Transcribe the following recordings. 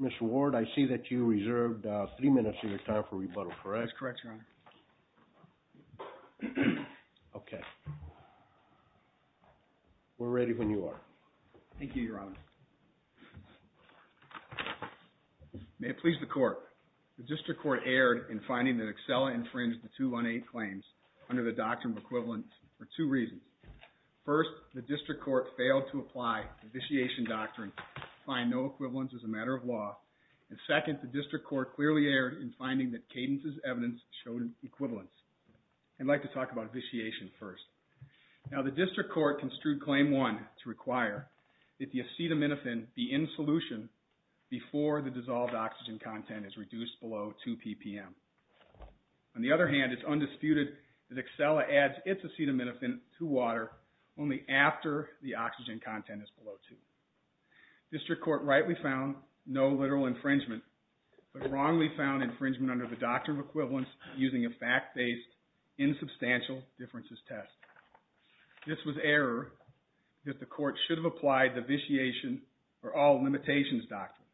Mr. Ward, I see that you reserved three minutes of your time for rebuttal, correct? That's correct, Your Honor. Okay. We're ready when you are. Thank you, Your Honor. May it please the Court, the District Court erred in finding that Exela infringed the 218 claims under the Doctrine of Equivalence for two reasons. First, the District Court failed to apply the Vitiation Doctrine and find no equivalence as a matter of law. And second, the District Court clearly erred in finding that Cadence's evidence showed an equivalence. I'd like to talk about Vitiation first. Now, the District Court construed Claim 1 to require that the acetaminophen be in solution before the dissolved oxygen content is reduced below 2 ppm. On the other hand, it's undisputed that Exela adds its acetaminophen to water only after the oxygen content is below 2. District Court rightly found no literal infringement, but wrongly found infringement under the Doctrine of Equivalence using a fact-based, insubstantial differences test. This was error that the Court should have applied the Vitiation or All Limitations Doctrine.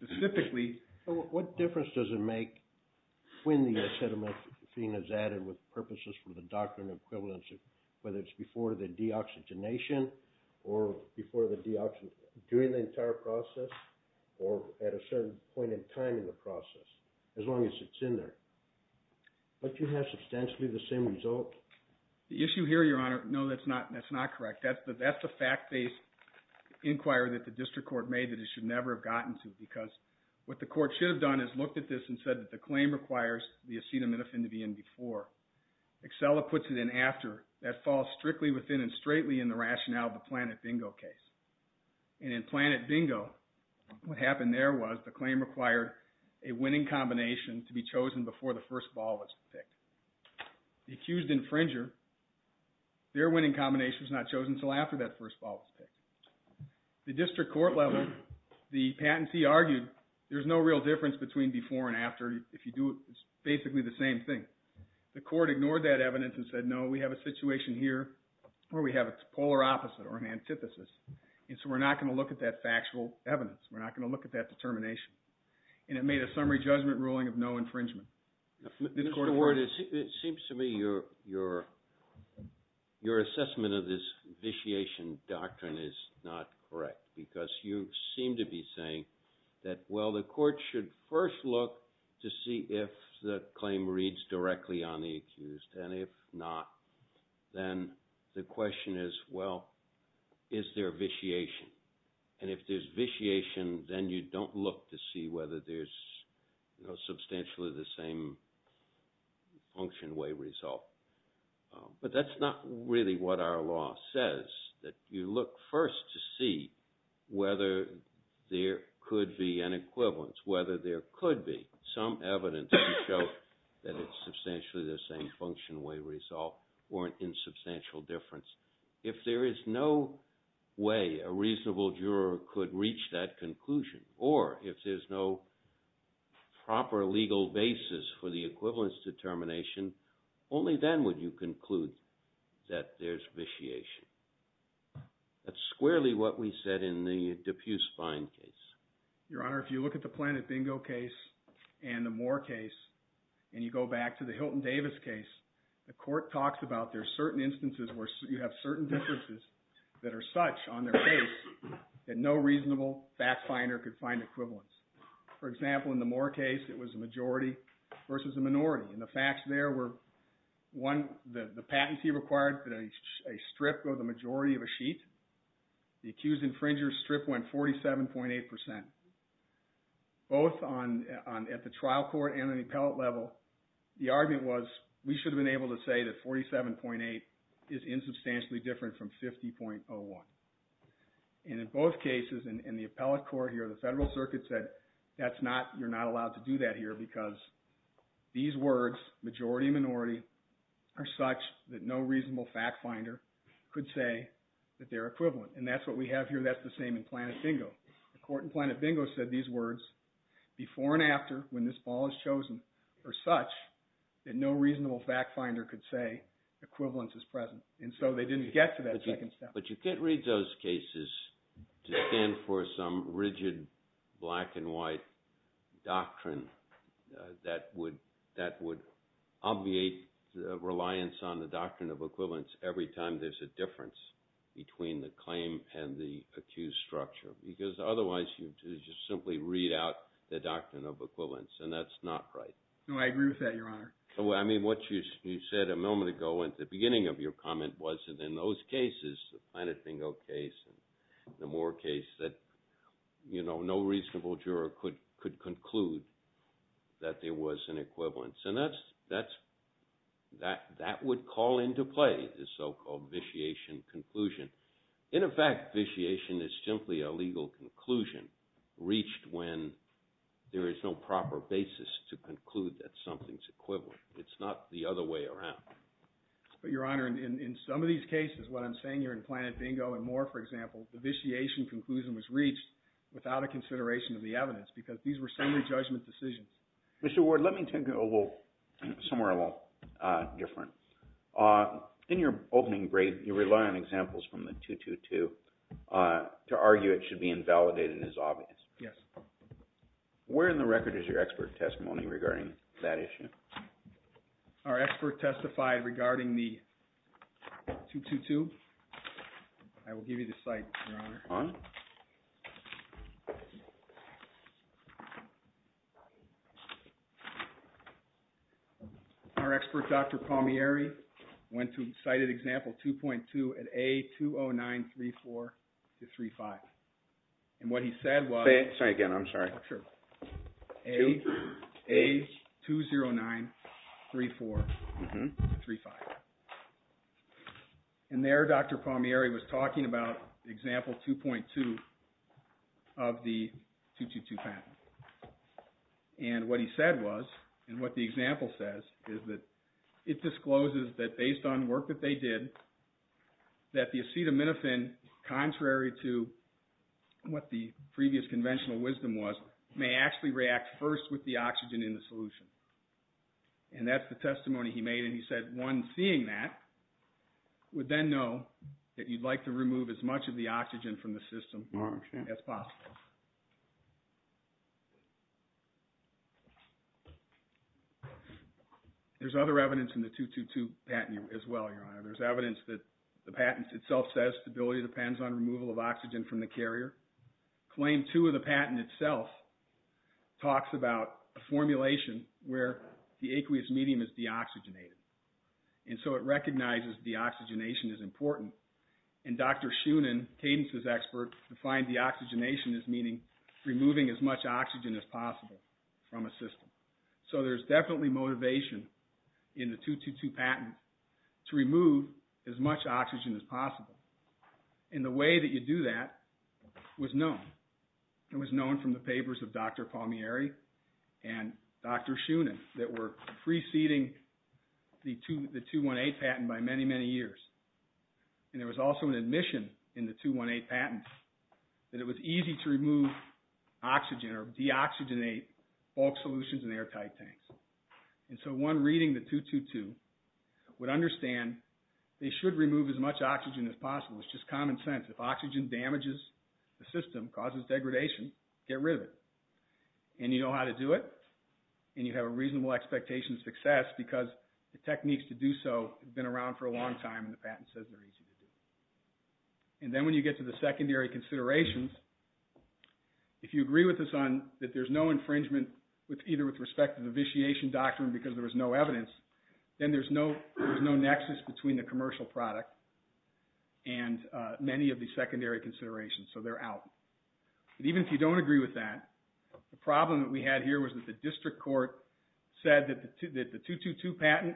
Specifically... What difference does it make when the acetaminophen is added with purposes for the Doctrine of Equivalence, whether it's before the deoxygenation, or before the deoxygenation, during the entire process, or at a certain point in time in the process, as long as it's in there? Don't you have substantially the same result? The issue here, Your Honor, no, that's not correct. That's the fact-based inquiry that the District Court made that it should never have gotten to, because what the Court should have done is looked at this and said that the claim requires the acetaminophen to be in before. Exela puts it in after. That falls strictly within and straightly in the rationale of the Planet Bingo case. And in Planet Bingo, what happened there was the claim required a winning combination to be chosen before the first ball was picked. The accused infringer, their winning combination was not chosen until after that first ball was picked. The District Court level, the patentee argued there's no real difference between before and after. If you do it, it's basically the same thing. The Court ignored that evidence and said, no, we have a situation here where we have a polar opposite or an antithesis. And so we're not going to look at that factual evidence. We're not going to look at that determination. And it made a summary judgment ruling of no infringement. Mr. Ward, it seems to me your assessment of this vitiation doctrine is not correct, because you seem to be saying that, well, the Court should first look to see if the claim reads directly on the accused. And if not, then the question is, well, is there vitiation? And if there's vitiation, then you don't look to see whether there's substantially the same function way result. But that's not really what our law says, that you look first to see whether there could be an equivalence, whether there could be some evidence to show that it's substantially the same function way result or an insubstantial difference. If there is no way a reasonable juror could reach that conclusion, or if there's no proper legal basis for the equivalence determination, only then would you conclude that there's vitiation. That's squarely what we said in the Dupuis-Fine case. Your Honor, if you look at the Planet Bingo case and the Moore case, and you go back to the Hilton Davis case, the Court talks about there's certain instances where you have certain differences that are such on their case that no reasonable fact finder could find equivalence. For example, in the Moore case, it was a majority versus a minority. And the facts there were, one, the patentee required that a strip go the majority of a sheet. The accused infringer's strip went 47.8%. Both at the trial court and at the appellate level, the argument was we should have been able to say that 47.8 is insubstantially different from 50.01. And in both cases, in the appellate court here, the Federal Circuit said, you're not allowed to do that here because these words, majority and minority, are such that no reasonable fact finder could say that they're equivalent. And that's what we have here. That's the same in Planet Bingo. Planet Bingo said these words, before and after, when this ball is chosen, are such that no reasonable fact finder could say equivalence is present. And so they didn't get to that second step. But you can't read those cases to stand for some rigid black and white doctrine that would obviate the reliance on the doctrine of equivalence every time there's a difference between the claim and the accused structure. Because otherwise, you just simply read out the doctrine of equivalence. And that's not right. No, I agree with that, Your Honor. I mean, what you said a moment ago at the beginning of your comment was that in those cases, the Planet Bingo case and the Moore case, that no reasonable juror could conclude that there was an equivalence. And that would call into play the so-called vitiation conclusion. In effect, vitiation is simply a legal conclusion reached when there is no proper basis to conclude that something's equivalent. It's not the other way around. But, Your Honor, in some of these cases, what I'm saying here in Planet Bingo and Moore, for example, the vitiation conclusion was reached without a consideration of the evidence because these were summary judgment decisions. Mr. Ward, let me take you somewhere a little different. In your opening break, you rely on examples from the 222 to argue it should be invalidated as obvious. Yes. Where in the record is your expert testimony regarding that issue? Our expert testified regarding the 222. I will give you the site, Your Honor. Fine. Thank you. Our expert, Dr. Palmieri, went to cited example 2.2 at A20934-35. And what he said was... Say it again. I'm sorry. A20934-35. And there, Dr. Palmieri was talking about example 2.2 of the 222 patent. And what he said was, and what the example says, is that it discloses that based on work that they did, that the acetaminophen, contrary to what the previous conventional wisdom was, may actually react first with the oxygen in the solution. And that's the testimony he made. And he said one seeing that would then know that you'd like to remove as much of the oxygen from the system as possible. There's other evidence in the 222 patent as well, Your Honor. There's evidence that the patent itself says stability depends on removal of oxygen from the carrier. where the aqueous medium is deoxygenated. And so it recognizes deoxygenation is important. And Dr. Schoonen, Cadence's expert, defined deoxygenation as meaning removing as much oxygen as possible from a system. So there's definitely motivation in the 222 patent to remove as much oxygen as possible. And the way that you do that was known. It was known from the papers of Dr. Palmieri and Dr. Schoonen that were preceding the 218 patent by many, many years. And there was also an admission in the 218 patent that it was easy to remove oxygen or deoxygenate bulk solutions in airtight tanks. And so one reading the 222 would understand they should remove as much oxygen as possible. It's just common sense. If oxygen damages the system, causes degradation, get rid of it. And you know how to do it. And you have a reasonable expectation of success because the techniques to do so have been around for a long time and the patent says they're easy to do. And then when you get to the secondary considerations, if you agree with us on that there's no infringement either with respect to the vitiation doctrine because there was no evidence, then there's no nexus between the commercial product and many of the secondary considerations. So they're out. But even if you don't agree with that, the problem that we had here was that the district court said that the 222 patent,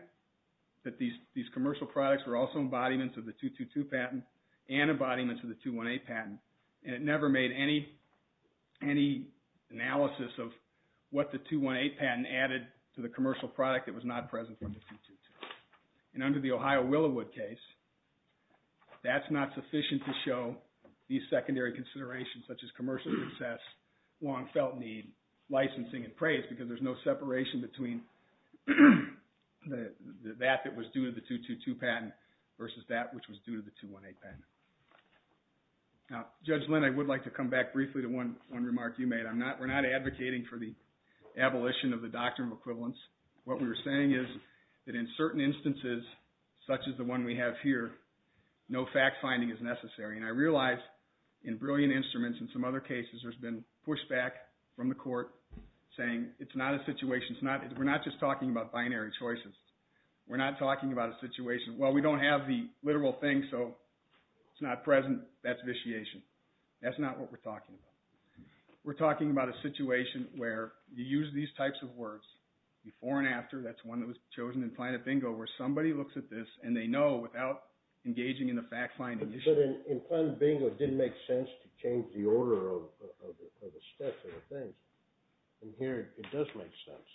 that these commercial products were also embodiments of the 222 patent and embodiments of the 218 patent. And it never made any analysis of what the 218 patent added to the commercial product that was not present from the 222. And under the Ohio Willowood case, that's not sufficient to show these secondary considerations such as commercial success, long felt need, licensing and praise because there's no separation between that that was due to the 222 patent versus that which was due to the 218 patent. Now Judge Lynn, I would like to come back briefly to one remark you made. We're not advocating for the abolition of the doctrine of equivalence. What we're saying is that in certain instances such as the one we have here, no fact finding is necessary. And I realize in Brilliant Instruments and some other cases there's been pushback from the court saying it's not a situation. We're not just talking about binary choices. We're not talking about a situation. Well, we don't have the literal thing so it's not present. That's vitiation. That's not what we're talking about. We're talking about a situation where you use these types of words before and after. That's one that was chosen in Plano Bingo where somebody looks at this and they know without engaging in the fact finding. But you said in Plano Bingo it didn't make sense to change the order of the steps and the things. And here it does make sense.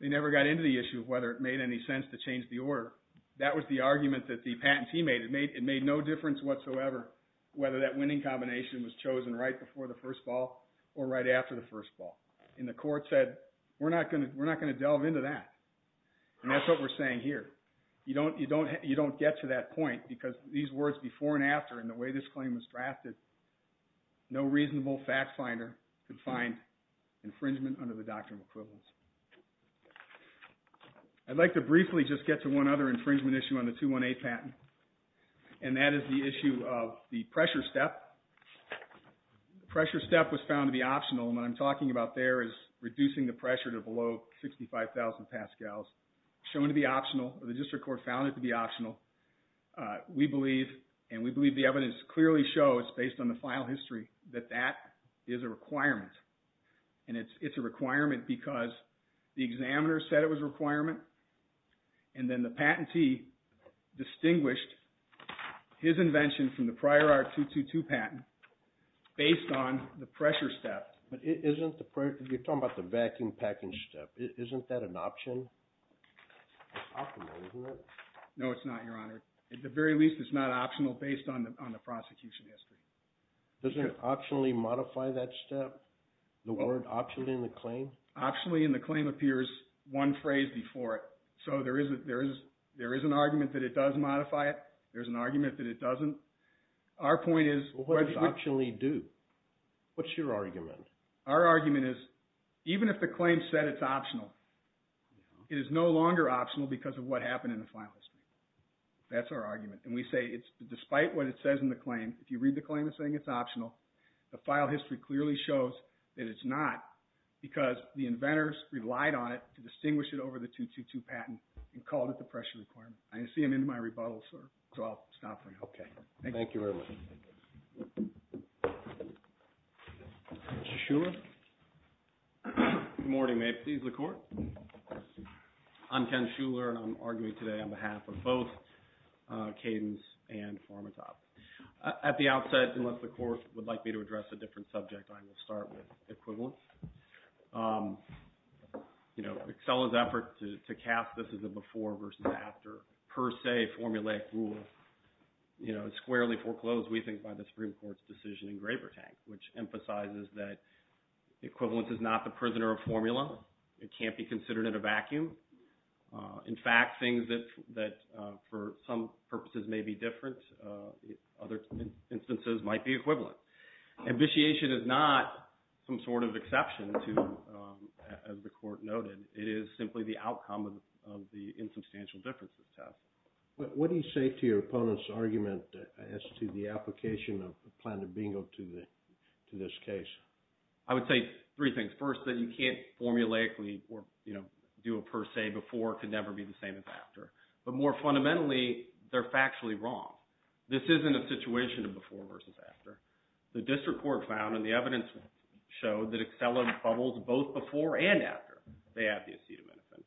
They never got into the issue of whether it made any sense to change the order. That was the argument that the patentee made. It made no difference whatsoever whether that winning combination was chosen right before the first ball or right after the first ball. And the court said we're not going to delve into that. And that's what we're saying here. You don't get to that point because these words before and after and the way this claim was drafted, no reasonable fact finder could find infringement under the Doctrine of Equivalence. I'd like to briefly just get to one other infringement issue on the 218 patent. And that is the issue of the pressure step. The pressure step was found to be optional. What's there is reducing the pressure to below 65,000 pascals. Shown to be optional. The district court found it to be optional. We believe, and we believe the evidence clearly shows based on the file history that that is a requirement. And it's a requirement because the examiner said it was a requirement. And then the patentee distinguished his invention from the prior R-222 patent based on the pressure step. You're talking about the vacuum package step. Isn't that an option? It's optional, isn't it? No, it's not, Your Honor. At the very least, it's not optional based on the prosecution history. Does it optionally modify that step? The word optionally in the claim? Optionally in the claim appears one phrase before it. So there is an argument that it does modify it. There's an argument that it doesn't. Our point is... What does optionally do? Our argument is even if the claim said it's optional, it is no longer optional because of what happened in the file history. That's our argument. And we say despite what it says in the claim, if you read the claim, it's saying it's optional. The file history clearly shows that it's not because the inventors relied on it to distinguish it over the 222 patent and called it the pressure requirement. I see I'm in my rebuttal, sir. So I'll stop for now. Thank you very much. Thank you. Mr. Shuler. Good morning. May it please the Court. I'm Ken Shuler and I'm arguing today on behalf of both Cadence and PharmaTop. At the outset, unless the Court would like me to address a different subject, I will start with equivalence. You know, Excella's effort to cast this as a before versus after, per se, formulaic rule, you know, is squarely foreclosed, we think, by the Supreme Court's decision in Graber Tank, which emphasizes that equivalence is not the prisoner of formula. It can't be considered in a vacuum. In fact, things that for some purposes may be different, other instances might be equivalent. Ambition is not some sort of exception to, as the Court noted, it is simply the outcome of the insubstantial differences test. What do you say to your opponent's argument as to the application of a plan of bingo to this case? I would say three things. First, that you can't formulaically, you know, do a per se before. It could never be the same as after. But more fundamentally, they're factually wrong. This isn't a situation of before versus after. The District Court found, and the evidence showed, that Excella bubbles both before and after they add the acetaminophen.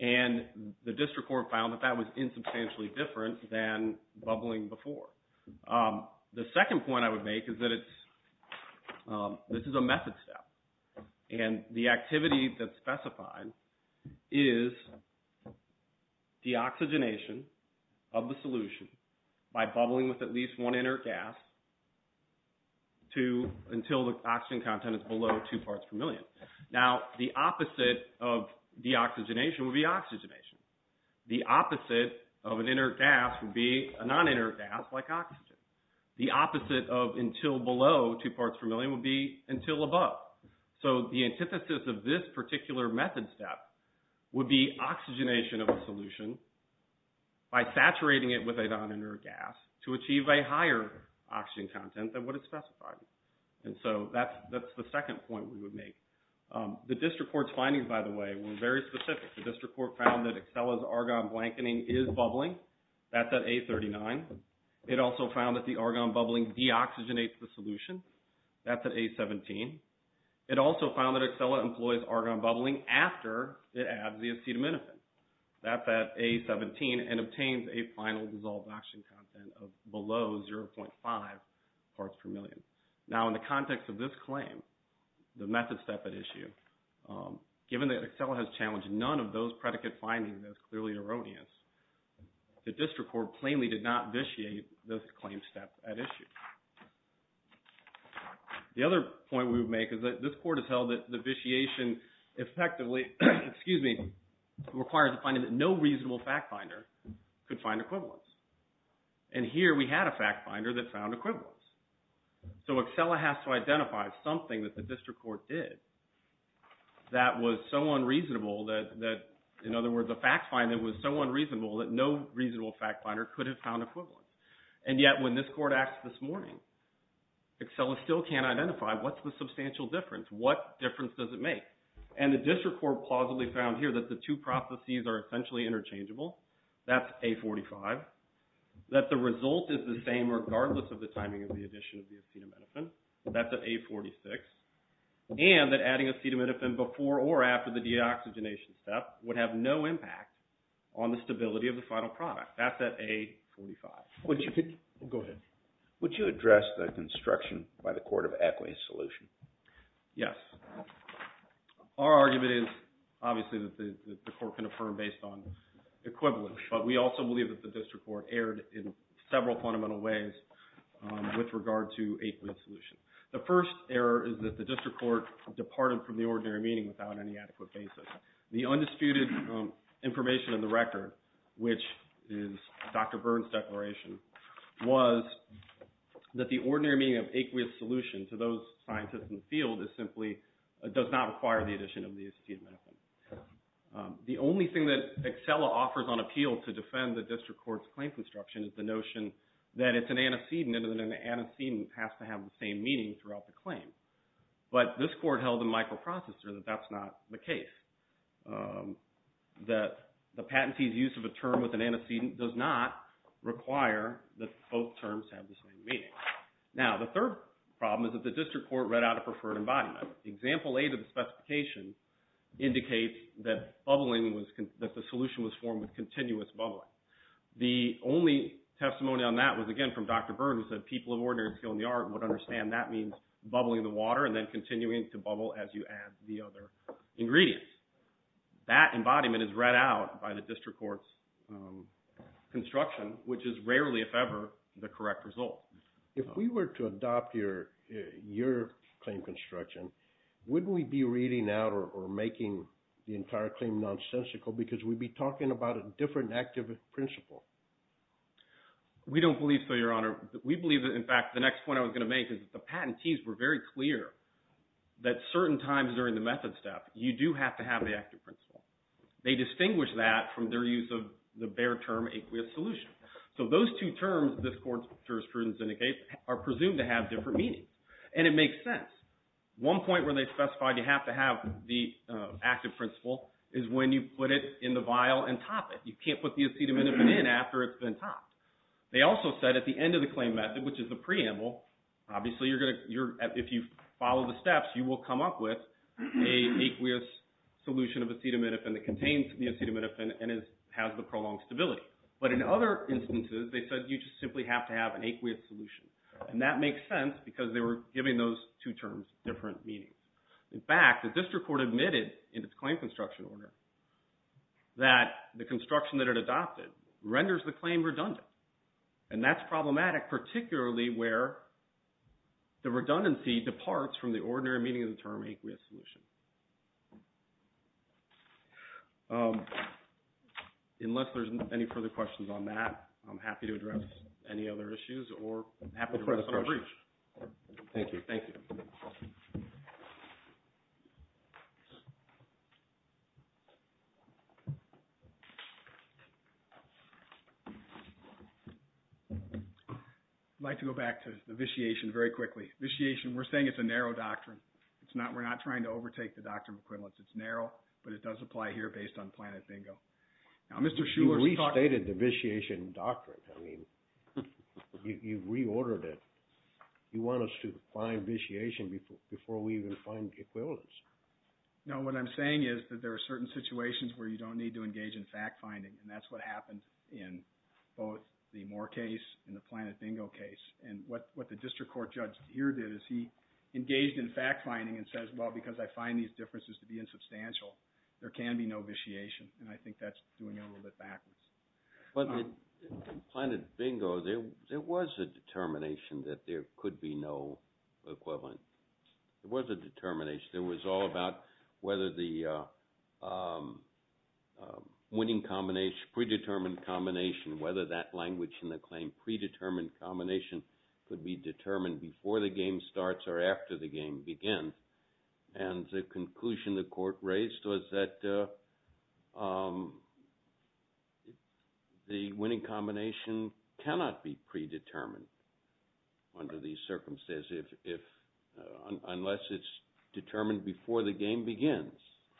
And the District Court found that that was insubstantially different than bubbling before. The second point I would make is that this is a method step. And the activity that's specified is deoxygenation of the solution by bubbling with at least one inert gas until the oxygen content is below two parts per million. Now, the opposite of deoxygenation would be oxygenation. The opposite of an inert gas would be a non-inert gas like oxygen. The opposite of until below two parts per million would be until above. So the antithesis of this particular method step would be oxygenation of a solution by saturating it with a non-inert gas to achieve a higher oxygen content than what is specified. And so that's the second point we would make. The District Court's findings, by the way, were very specific. The District Court found that Excella's argon blanketing is bubbling. That's at A39. It also found that the argon bubbling deoxygenates the solution. That's at A17. It also found that Excella employs argon bubbling after it adds the acetaminophen. That's at A17 and obtains a final dissolved oxygen content of below 0.5 parts per million. Now in the context of this claim, the method step at issue, given that Excella has challenged none of those predicate findings, that's clearly erroneous, the District Court plainly did not vitiate this claim step at issue. The other point we would make is that this Court has held that the vitiation effectively, excuse me, requires the finding that no reasonable fact finder could find equivalence. And here we had a fact finder that found equivalence. So Excella has to identify something that the District Court did that was so unreasonable that, in other words, a fact finder was so unreasonable that no reasonable fact finder could have found equivalence. And yet when this Court asked this morning, Excella still can't identify what's the substantial difference? What difference does it make? And the District Court plausibly found here that the two processes are essentially interchangeable. That's A45. That the result is the same regardless of the timing of the addition of the acetaminophen. That's at A46. And that adding acetaminophen before or after the deoxygenation step would have no impact on the stability of the final product. That's at A45. Go ahead. Would you address the construction by the Court of Equity solution? Yes. Our argument is obviously that the Court can affirm based on equivalence. But we also believe that the District Court erred in several fundamental ways with regard to aqueous solution. The first error is that the District Court departed from the ordinary meeting without any adequate basis. The undisputed information in the record, which is Dr. Byrne's declaration, was that the ordinary meeting of aqueous solution to those scientists in the field is simply, does not require the addition of the acetaminophen. The only thing that Excella offers on appeal to defend the District Court's claim construction is the notion that it's an antecedent and an antecedent has to have the same meaning throughout the claim. But this Court held in microprocessor that that's not the case. That the patentee's use of a term with an antecedent does not require that both terms have the same meaning. Now, the third problem is that the District Court read out a preferred embodiment. Example A to the specification indicates that the solution was formed with continuous bubbling. The only testimony on that was, again, from Dr. Byrne who said people of ordinary skill in the art would understand that means bubbling the water and then continuing to bubble as you add the other ingredients. That embodiment is read out by the District Court's construction, which is rarely, if ever, the correct result. If we were to adopt your claim construction wouldn't we be reading out or making the entire claim nonsensical because we'd be talking about a different active principle? We don't believe so, Your Honor. We believe that, in fact, the next point I was going to make is that the patentees were very clear that certain times during the method step you do have to have the active principle. They distinguish that from their use of the bare term aqueous solution. So those two terms the Court's jurisprudence indicates are presumed to have different meanings. And it makes sense. The point where they specified you have to have the active principle is when you put it in the vial and top it. You can't put the acetaminophen in after it's been topped. They also said at the end of the claim method, which is the preamble, obviously if you follow the steps you will come up with an aqueous solution of acetaminophen that contains the acetaminophen and has the prolonged stability. But in other instances they said you just simply have to have an aqueous solution. And that makes sense because they were giving those two terms to the District Court. In fact, the District Court admitted in its claim construction order that the construction that it adopted renders the claim redundant. And that's problematic particularly where the redundancy departs from the ordinary meaning of the term aqueous solution. Unless there's any further questions on that, I'm happy to address any other issues or I'm happy to address other briefs. Thank you. Thank you. I'd like to go back to the vitiation very quickly. We're saying it's a narrow doctrine. We're not trying to overtake the doctrine of equivalence. It's narrow, but it does apply here based on Planet Bingo. You restated the vitiation doctrine. I mean, you've reordered it. You want us to find vitiation before we even find equivalence. No, what I'm saying is that there are certain situations where you don't need to engage in fact-finding. And that's what happened in both the Moore case and the Planet Bingo case. And what the District Court judge here did is he engaged in fact-finding and says, well, because I find these differences to be insubstantial, there can be no vitiation. And I think that's doing it a little bit backwards. But in Planet Bingo, there was a determination that there could be no equivalent. There was a determination. It was all about whether the winning combination, predetermined combination, whether that language in the claim, predetermined combination, could be determined before the game starts or after the game begins. And the conclusion the court raised was that the winning combination cannot be predetermined. Under these circumstances, unless it's determined before the game begins.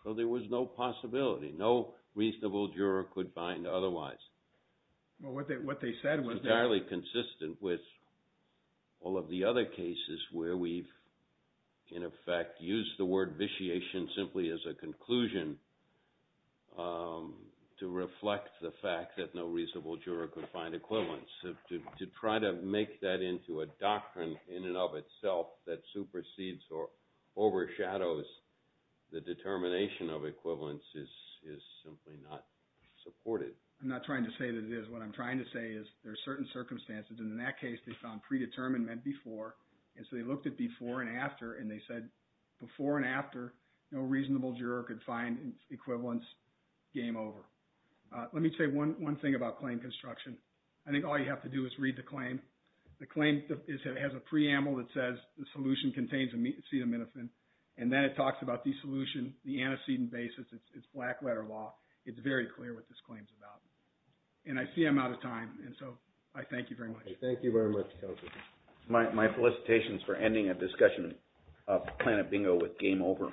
So there was no possibility. No reasonable juror could find otherwise. Well, what they said was that... Entirely consistent with all of the other cases where we've, in effect, used the word vitiation simply as a conclusion to reflect the fact that no reasonable juror could find equivalence. To try to make that into a doctrine in and of itself that supersedes or overshadows the determination of equivalence is simply not supported. I'm not trying to say that it is. What I'm trying to say is there are certain circumstances. And in that case, they found predetermined meant before. And so they looked at before and after and they said before and after no reasonable juror could find equivalence game over. All you have to do is read the claim. The claim has a preamble that says the solution contains acetaminophen. And then it talks about the solution, the antecedent basis. It's black letter law. It's very clear what this claim is about. And I see I'm out of time. And so I thank you very much. Thank you very much. My felicitations for ending a discussion of Planet Bingo with game over.